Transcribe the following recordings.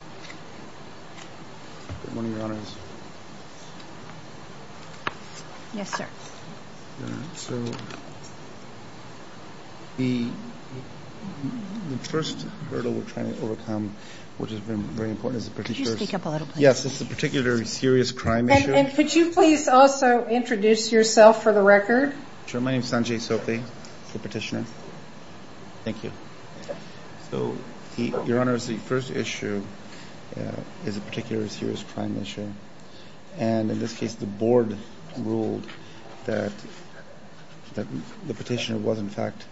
The first hurdle we're trying to overcome, which has been very important, is the particular serious crime issue. Could you please also introduce yourself for the record? Sure. My name is Sanjay Sophie, the petitioner. Thank you. So, Your Honor, the first issue is a particular serious crime issue. And in this case, the Board ruled that the petitioner was, in fact,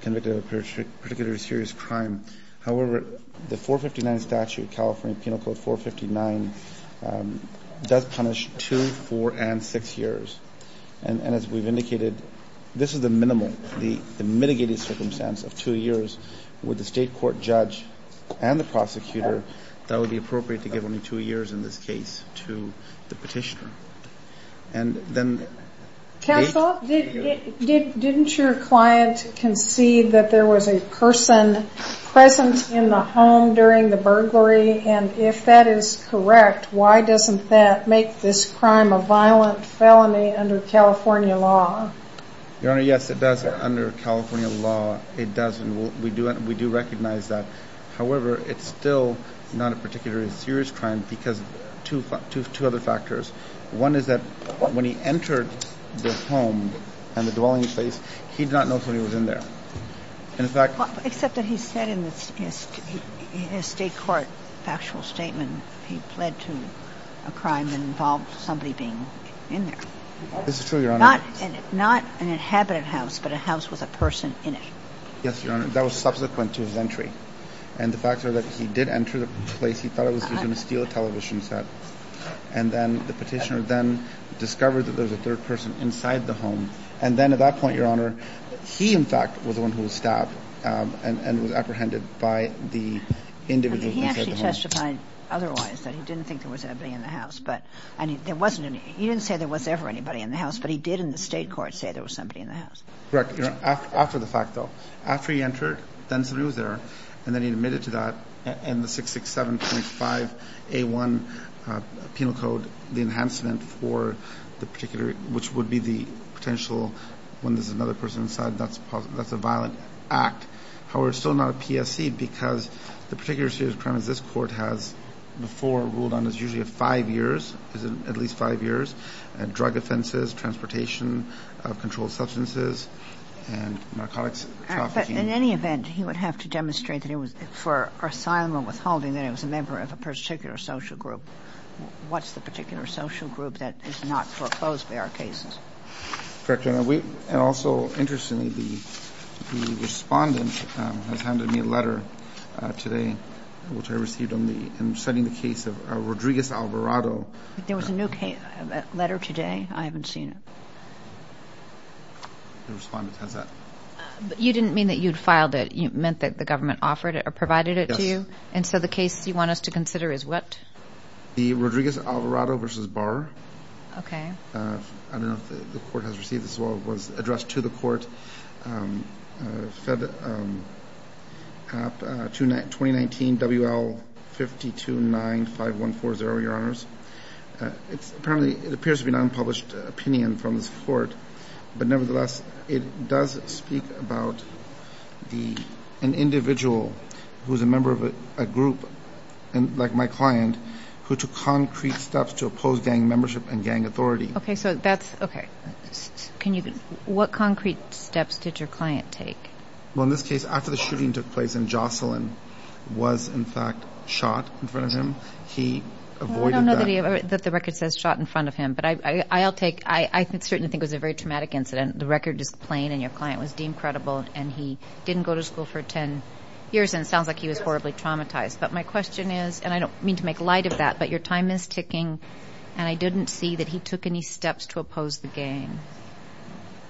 convicted of a particular serious crime. However, the 459 statute, California Penal Code 459, does punish two, four, and six years. And as we've indicated, this is the minimal, the mitigated circumstance of two years. Would the State court judge and the prosecutor thought it would be appropriate to give only two years in this case to the petitioner? And then the date? Counsel, didn't your client concede that there was a person present in the home during the burglary? And if that is correct, why doesn't that make this crime a violent felony under California law? Your Honor, yes, it does. Under California law, it does. And we do recognize that. However, it's still not a particularly serious crime because of two other factors. One is that when he entered the home and the dwelling place, he did not know somebody was in there. Except that he said in his State court factual statement he pled to a crime that involved somebody being in there. This is true, Your Honor. Not an inhabited house, but a house with a person in it. Yes, Your Honor. That was subsequent to his entry. And the fact is that he did enter the place. He thought he was going to steal a television set. And then the petitioner then discovered that there was a third person inside the home. And then at that point, Your Honor, he, in fact, was the one who was stabbed and was apprehended by the individual inside the home. He actually testified otherwise, that he didn't think there was anybody in the house. But, I mean, there wasn't any. He didn't say there was ever anybody in the house. But he did in the State court say there was somebody in the house. Correct, Your Honor. After the fact, though. After he entered, then somebody was there. And then he admitted to that. And the 667.5A1 penal code, the enhancement for the particular, which would be the potential when there's another person inside, that's a violent act. However, it's still not a PSC because the particular series of crimes this Court has before ruled on is usually five years, at least five years, drug offenses, transportation of controlled substances, and narcotics trafficking. In any event, he would have to demonstrate that it was for asylum or withholding that it was a member of a particular social group. What's the particular social group that is not foreclosed by our cases? Correct, Your Honor. And also, interestingly, the Respondent has handed me a letter today, which I received in studying the case of Rodriguez-Alvarado. There was a new letter today? I haven't seen it. The Respondent has that. But you didn't mean that you'd filed it? You meant that the government offered it or provided it to you? Yes. And so the case you want us to consider is what? The Rodriguez-Alvarado v. Barr. Okay. I don't know if the Court has received this as well. It was addressed to the Court. It's apparently an unpublished opinion from this Court, but nevertheless, it does speak about an individual who is a member of a group like my client who took concrete steps to oppose gang membership and gang authority. Okay. What concrete steps did your client take? Well, in this case, after the shooting took place and Jocelyn was, in fact, shot in front of him, he avoided that. I don't know that the record says shot in front of him, but I'll take – I certainly think it was a very traumatic incident. The record is plain, and your client was deemed credible, and he didn't go to school for 10 years, and it sounds like he was horribly traumatized. But my question is – and I don't mean to make light of that, but your time is ticking, and I didn't see that he took any steps to oppose the gang.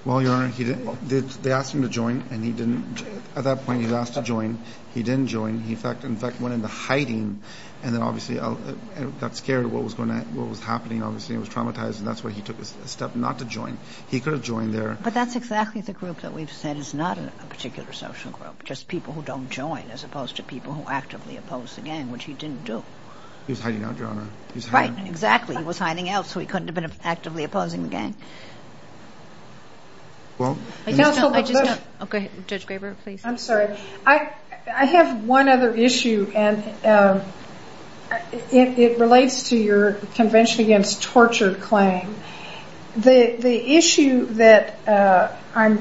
Well, Your Honor, he didn't – they asked him to join, and he didn't – at that point, he was asked to join. He didn't join. He, in fact, went into hiding, and then obviously got scared of what was going to – what was happening. Obviously, he was traumatized, and that's why he took a step not to join. He could have joined there. But that's exactly the group that we've said is not a particular social group, just people who don't join as opposed to people who actively oppose the gang, which he didn't do. He was hiding out, Your Honor. Right, exactly. He was hiding out, so he couldn't have been actively opposing the gang. Well – I just don't – oh, go ahead. Judge Graber, please. I'm sorry. I have one other issue, and it relates to your Convention Against Torture claim. The issue that I'm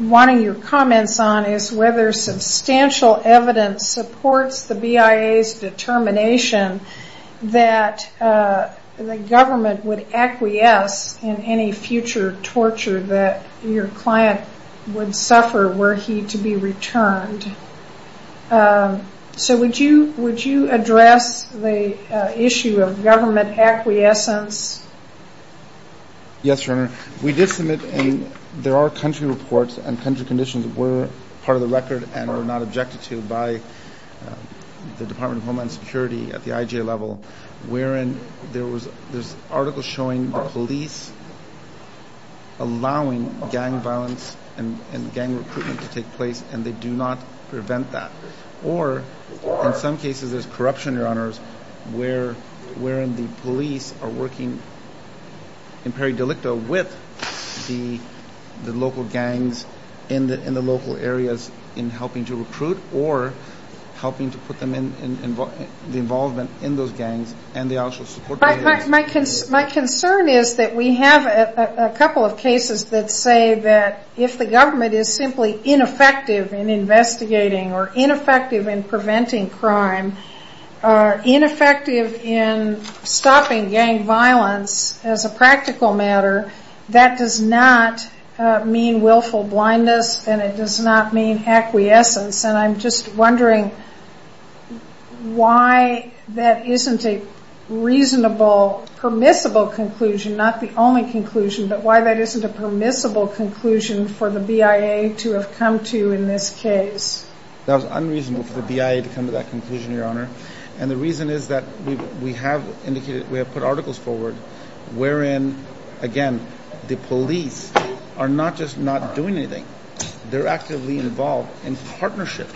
wanting your comments on is whether substantial evidence supports the BIA's determination that the government would acquiesce in any future torture that your client would suffer were he to be returned. So would you address the issue of government acquiescence? Yes, Your Honor. We did submit – and there are country reports, and country conditions were part of the record and were not objected to by the Department of Homeland Security at the IJ level, wherein there's articles showing the police allowing gang violence and gang recruitment to take place, and they do not prevent that. Or, in some cases, there's corruption, Your Honors, wherein the police are working in peri-delicto with the local gangs in the local areas in helping to recruit or helping to put them in – the involvement in those gangs, and they also support – My concern is that we have a couple of cases that say that if the government is simply ineffective in investigating or ineffective in preventing crime, ineffective in stopping gang violence as a practical matter, that does not mean willful blindness, and it does not mean acquiescence. And I'm just wondering why that isn't a reasonable, permissible conclusion, not the only conclusion, but why that isn't a permissible conclusion for the BIA to have come to in this case. That was unreasonable for the BIA to come to that conclusion, Your Honor. And the reason is that we have indicated – we have put articles forward wherein, again, the police are not just not doing anything. They're actively involved in partnership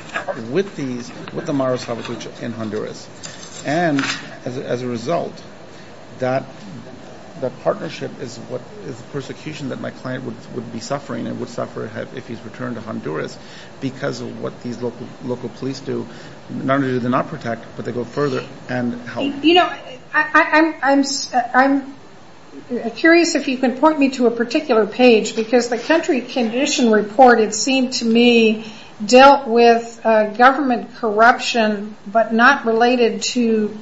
with these – with the Mara Salvatrucha in Honduras. And as a result, that partnership is the persecution that my client would be suffering and would suffer if he's returned to Honduras because of what these local police do. Not only do they not protect, but they go further and help. You know, I'm curious if you can point me to a particular page because the country condition report, it seemed to me, dealt with government corruption but not related to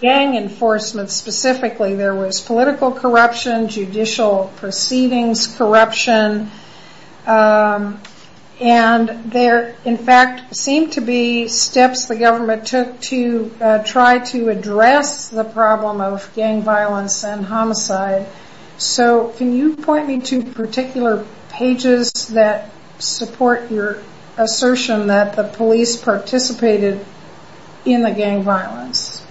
gang enforcement specifically. There was political corruption, judicial proceedings corruption, and there, in fact, seemed to be steps the government took to try to address the problem of gang violence and homicide. So can you point me to particular pages that support your assertion that the police participated in the gang violence?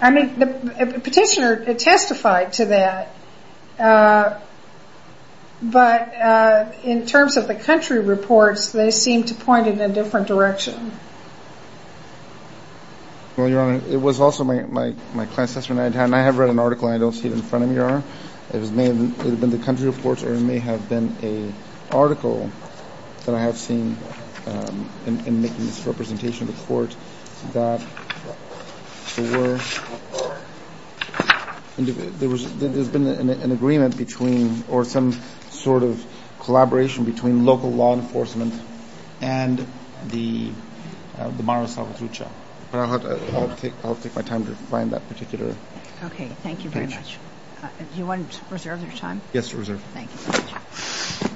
I mean, the petitioner testified to that, but in terms of the country reports, they seem to point in a different direction. Well, Your Honor, it was also my client's assessment. I have read an article, and I don't see it in front of me, Your Honor. It may have been the country reports or it may have been an article that I have seen in making this representation to court that there's been an agreement between or some sort of collaboration between local law enforcement and the Mara Salvatrucha. But I'll take my time to find that particular page. Okay. Thank you very much. Do you want to reserve your time? Yes, Your Honor. Thank you very much. Thank you.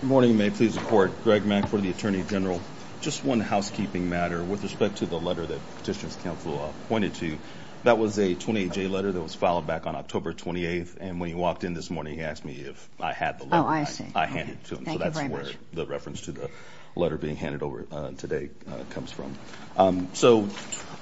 Good morning. May it please the Court. Greg Mack for the Attorney General. Just one housekeeping matter with respect to the letter that Petitioner's Counsel pointed to. That was a 28-J letter that was filed back on October 28th, and when he walked in this morning, he asked me if I had the letter. Oh, I see. I handed it to him. Thank you very much. That's where the reference to the letter being handed over today comes from. So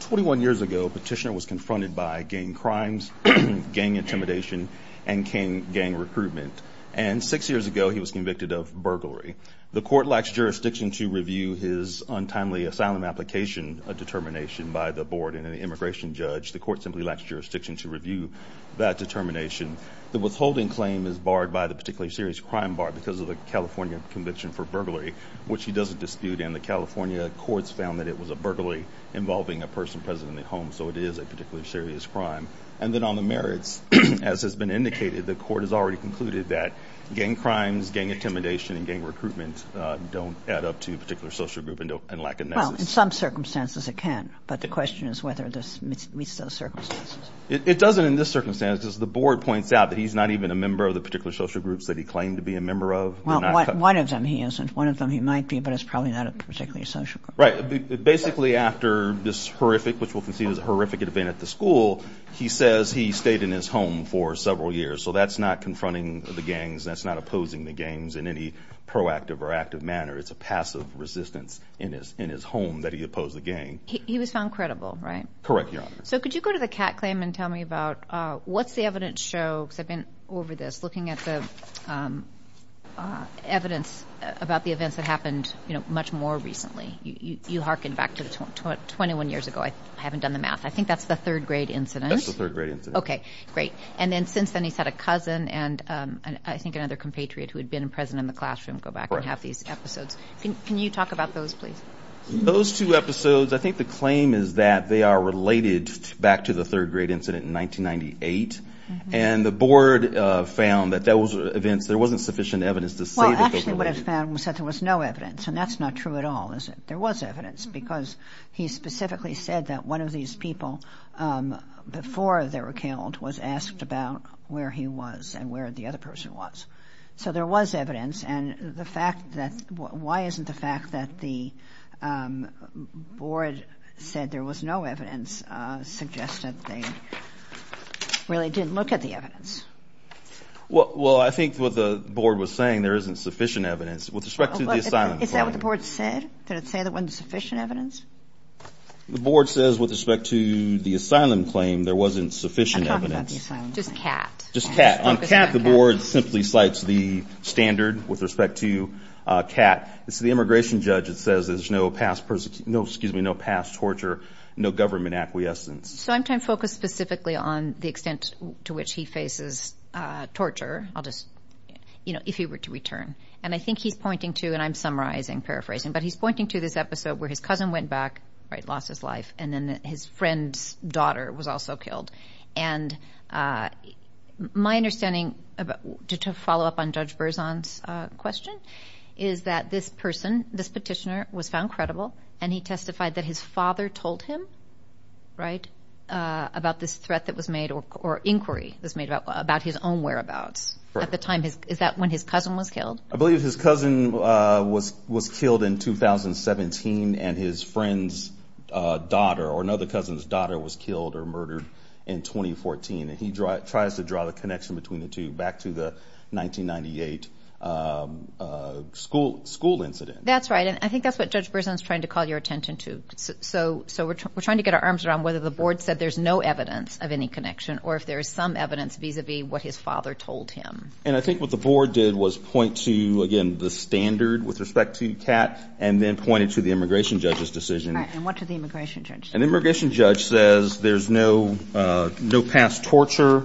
21 years ago, Petitioner was confronted by gang crimes, gang intimidation, and gang recruitment. And six years ago, he was convicted of burglary. The Court lacks jurisdiction to review his untimely asylum application determination by the board and an immigration judge. The Court simply lacks jurisdiction to review that determination. The withholding claim is barred by the particularly serious crime bar because of the California conviction for burglary, which he doesn't dispute. And the California courts found that it was a burglary involving a person present at home, so it is a particularly serious crime. And then on the merits, as has been indicated, the Court has already concluded that gang crimes, gang intimidation, and gang recruitment don't add up to a particular social group and lack a nexus. Well, in some circumstances it can, but the question is whether it meets those circumstances. It doesn't in this circumstance because the board points out that he's not even a member of the particular social groups that he claimed to be a member of. Well, one of them he isn't. One of them he might be, but it's probably not a particular social group. Right. Basically, after this horrific, which we'll concede is a horrific event at the school, he says he stayed in his home for several years. So that's not confronting the gangs. That's not opposing the gangs in any proactive or active manner. It's a passive resistance in his home that he opposed the gang. He was found credible, right? Correct, Your Honor. So could you go to the Kat claim and tell me about what's the evidence show, because I've been over this, looking at the evidence about the events that happened much more recently. You hearken back to 21 years ago. I haven't done the math. I think that's the third-grade incident. That's the third-grade incident. Okay, great. And then since then he's had a cousin and I think another compatriot who had been present in the classroom go back and have these episodes. Can you talk about those, please? Those two episodes, I think the claim is that they are related back to the third-grade incident in 1998, and the board found that those events, there wasn't sufficient evidence to say that those were related. Well, actually what it found was that there was no evidence, and that's not true at all, is it? There was evidence because he specifically said that one of these people, before they were killed, was asked about where he was and where the other person was. So there was evidence, and the fact that why isn't the fact that the board said there was no evidence suggested they really didn't look at the evidence. Well, I think what the board was saying, there isn't sufficient evidence. With respect to the asylum claim. Is that what the board said? Did it say there wasn't sufficient evidence? The board says with respect to the asylum claim, there wasn't sufficient evidence. I'm talking about the asylum claim. Just CAT. Just CAT. On CAT, the board simply cites the standard with respect to CAT. It's the immigration judge that says there's no past torture, no government acquiescence. So I'm trying to focus specifically on the extent to which he faces torture, if he were to return. And I think he's pointing to, and I'm summarizing, paraphrasing, but he's pointing to this episode where his cousin went back, right, lost his life, and then his friend's daughter was also killed. And my understanding, to follow up on Judge Berzon's question, is that this person, this petitioner, was found credible and he testified that his father told him, right, about this threat that was made or inquiry that was made about his own whereabouts at the time. Is that when his cousin was killed? I believe his cousin was killed in 2017 and his friend's daughter or another cousin's daughter was killed or murdered in 2014. And he tries to draw the connection between the two back to the 1998 school incident. That's right, and I think that's what Judge Berzon's trying to call your attention to. So we're trying to get our arms around whether the board said there's no evidence of any connection or if there is some evidence vis-a-vis what his father told him. And I think what the board did was point to, again, the standard with respect to CAT and then pointed to the immigration judge's decision. All right, and what did the immigration judge say? An immigration judge says there's no past torture.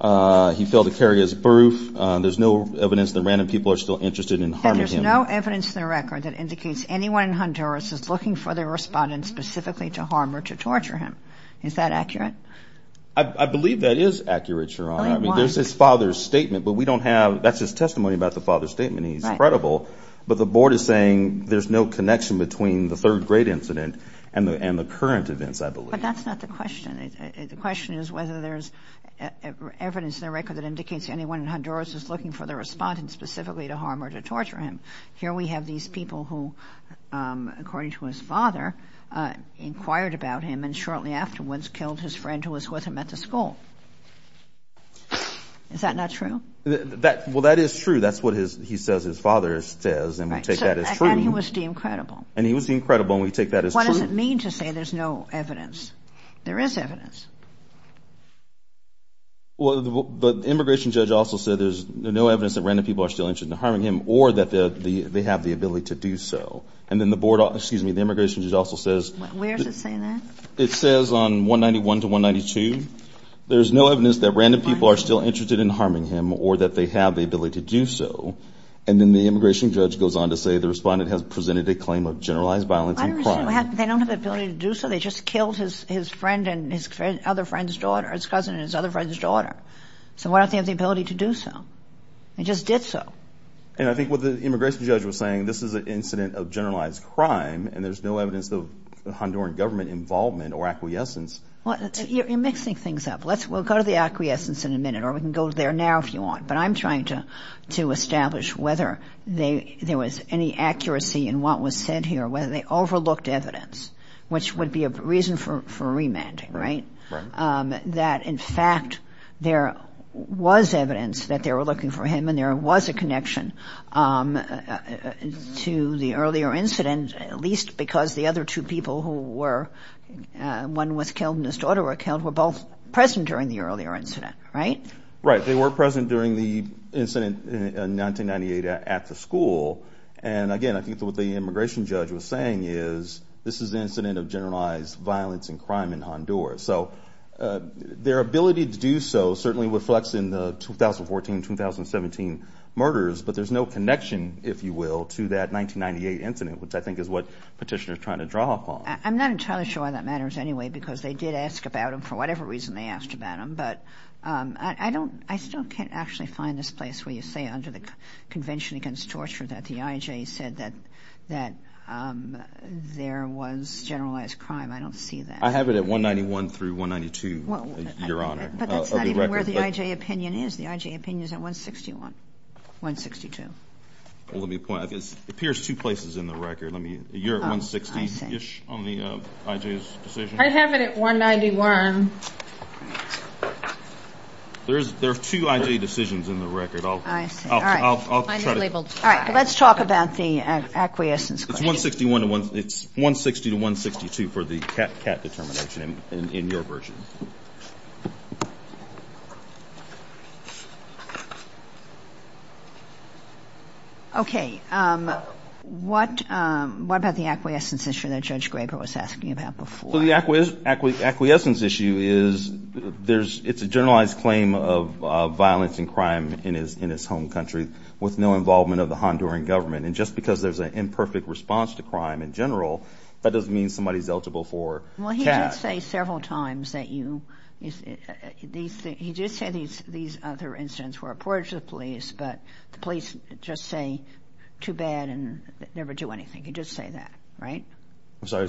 He failed to carry his proof. There's no evidence that random people are still interested in harming him. There's no evidence in the record that indicates anyone in Honduras is looking for their respondent specifically to harm or to torture him. Is that accurate? I believe that is accurate, Your Honor. There's his father's statement, but we don't haveóthat's his testimony about the father's statement. But the board is saying there's no connection between the third-grade incident and the current events, I believe. But that's not the question. The question is whether there's evidence in the record that indicates anyone in Honduras is looking for their respondent specifically to harm or to torture him. Here we have these people who, according to his father, inquired about him and shortly afterwards killed his friend who was with him at the school. Is that not true? Well, that is true. That's what he says his father says, and we take that as true. And he was deemed credible. And he was deemed credible, and we take that as true. What does it mean to say there's no evidence? There is evidence. Well, the immigration judge also said there's no evidence that random people are still interested in harming him or that they have the ability to do so. And then the boardóexcuse me, the immigration judge also saysó Where does it say that? It says on 191 to 192, there's no evidence that random people are still interested in harming him or that they have the ability to do so. And then the immigration judge goes on to say the respondent has presented a claim of generalized violence and crime. I understand. They don't have the ability to do so. They just killed his friend and his other friend's daughter, his cousin and his other friend's daughter. So why don't they have the ability to do so? They just did so. And I think what the immigration judge was saying, this is an incident of generalized crime, and there's no evidence of Honduran government involvement or acquiescence. Well, you're mixing things up. We'll go to the acquiescence in a minute, or we can go there now if you want. But I'm trying to establish whether there was any accuracy in what was said here, whether they overlooked evidence, which would be a reason for remanding, right? Right. That, in fact, there was evidence that they were looking for him and there was a connection to the earlier incident, at least because the other two people who were one was killed and his daughter were killed were both present during the earlier incident, right? Right. They were present during the incident in 1998 at the school. And, again, I think what the immigration judge was saying is this is an incident of generalized violence and crime in Honduras. So their ability to do so certainly reflects in the 2014-2017 murders, but there's no connection, if you will, to that 1998 incident, which I think is what Petitioner is trying to draw upon. I'm not entirely sure why that matters anyway because they did ask about him for whatever reason they asked about him. But I still can't actually find this place where you say under the Convention Against Torture that the IJ said that there was generalized crime. I don't see that. I have it at 191 through 192, Your Honor. But that's not even where the IJ opinion is. The IJ opinion is at 161, 162. Well, let me point out, it appears two places in the record. You're at 160-ish on the IJ's decision. I have it at 191. There are two IJ decisions in the record. I see. All right. Let's talk about the acquiescence claim. It's 160 to 162 for the CAT determination in your version. Okay. What about the acquiescence issue that Judge Graber was asking about before? Well, the acquiescence issue is it's a generalized claim of violence and crime in its home country with no involvement of the Honduran government. And just because there's an imperfect response to crime in general, that doesn't mean somebody's eligible for CAT. Well, he did say several times that you, he did say these other incidents were reported to the police, but the police just say too bad and never do anything. He did say that, right? I'm sorry.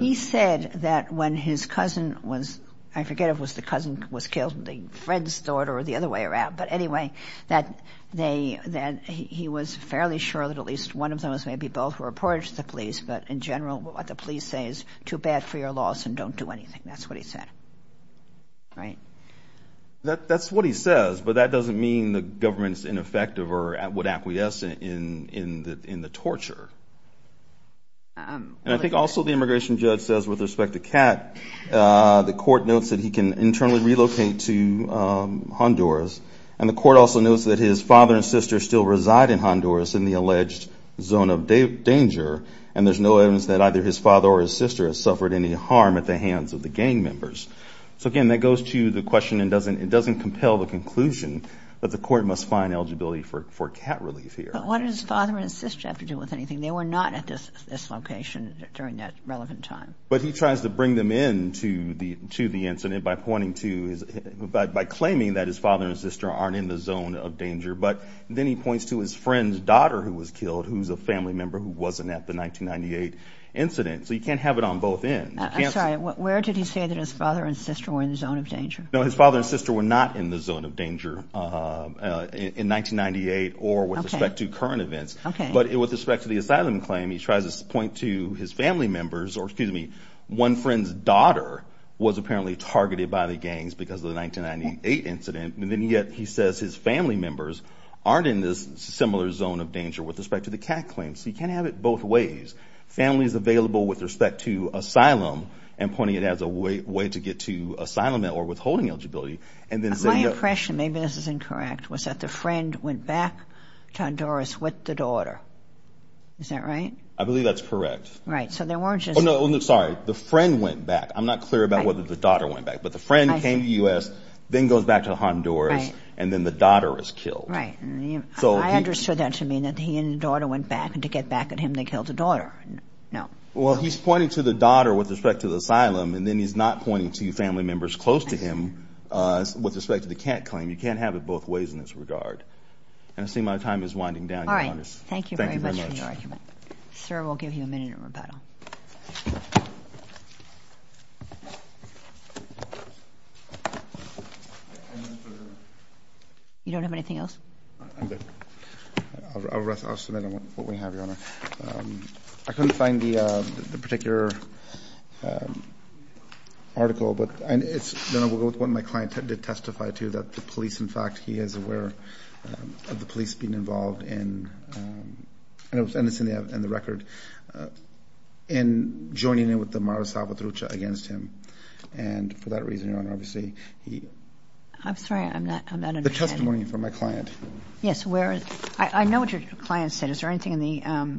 He said that when his cousin was, I forget if it was the cousin was killed, the friend's daughter, or the other way around. But anyway, that he was fairly sure that at least one of those, maybe both were reported to the police, but in general what the police say is too bad for your loss and don't do anything. That's what he said. Right? That's what he says, but that doesn't mean the government's ineffective or would acquiesce in the torture. And I think also the immigration judge says with respect to CAT, the court notes that he can internally relocate to Honduras, and the court also notes that his father and sister still reside in Honduras in the alleged zone of danger, and there's no evidence that either his father or his sister has suffered any harm at the hands of the gang members. So, again, that goes to the question, and it doesn't compel the conclusion that the court must find eligibility for CAT relief here. But what did his father and sister have to do with anything? They were not at this location during that relevant time. But he tries to bring them in to the incident by claiming that his father and sister aren't in the zone of danger, but then he points to his friend's daughter who was killed, who's a family member who wasn't at the 1998 incident. So you can't have it on both ends. I'm sorry. Where did he say that his father and sister were in the zone of danger? No, his father and sister were not in the zone of danger in 1998 or with respect to current events. Okay. But with respect to the asylum claim, he tries to point to his family members or, excuse me, one friend's daughter was apparently targeted by the gangs because of the 1998 incident, and then yet he says his family members aren't in this similar zone of danger with respect to the CAT claim. So you can't have it both ways. Family is available with respect to asylum and pointing it as a way to get to asylum or withholding eligibility. My impression, maybe this is incorrect, was that the friend went back to Honduras with the daughter. Is that right? I believe that's correct. Right. So there weren't just... Oh, no, sorry. The friend went back. I'm not clear about whether the daughter went back. But the friend came to the U.S., then goes back to Honduras, and then the daughter is killed. Right. I understood that to mean that he and the daughter went back, and to get back at him, they killed the daughter. No. Well, he's pointing to the daughter with respect to the asylum, and then he's not pointing to family members close to him with respect to the CAT claim. You can't have it both ways in this regard. And I see my time is winding down, Your Honor. All right. Thank you very much for your argument. Sir, we'll give you a minute in rebuttal. You don't have anything else? I'm good. I'll submit what we have, Your Honor. I couldn't find the particular article, but it's what my client did testify to, that the police, in fact, he is aware of the police being involved in, and it's in the record, in joining in with the Mara Salvatrucha against him. And for that reason, Your Honor, obviously, he... I'm sorry. I'm not understanding. The testimony from my client. Yes. I know what your client said. Is there anything in the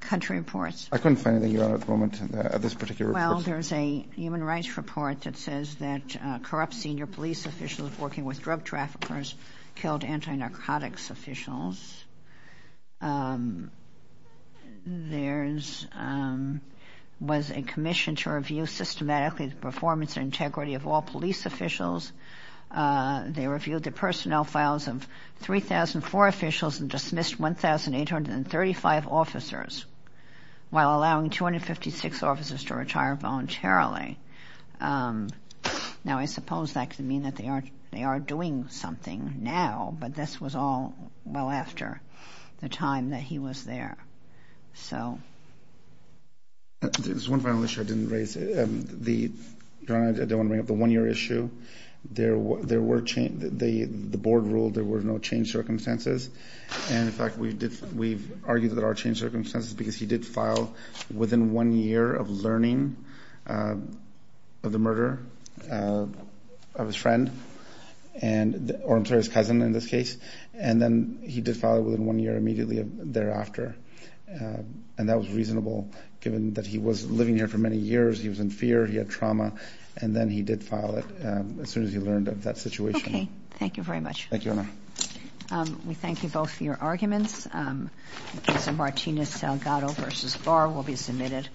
country reports? I couldn't find anything, Your Honor, at the moment, at this particular report. Well, there's a human rights report that says that corrupt senior police officials working with drug traffickers killed anti-narcotics officials. There was a commission to review systematically the performance and integrity of all police officials. They reviewed the personnel files of 3,004 officials and dismissed 1,835 officers while allowing 256 officers to retire voluntarily. Now, I suppose that could mean that they are doing something now, but this was all well after the time that he was there. So... There's one final issue I didn't raise. Your Honor, I don't want to bring up the one-year issue. The board ruled there were no changed circumstances. And, in fact, we've argued that there are changed circumstances because he did file within one year of learning of the murder of his friend. Or, I'm sorry, his cousin, in this case. And then he did file within one year immediately thereafter. And that was reasonable given that he was living here for many years. He was in fear. He had trauma. And then he did file it as soon as he learned of that situation. Okay. Thank you very much. Thank you, Your Honor. We thank you both for your arguments. The case of Martinez-Salgado v. Barr will be submitted.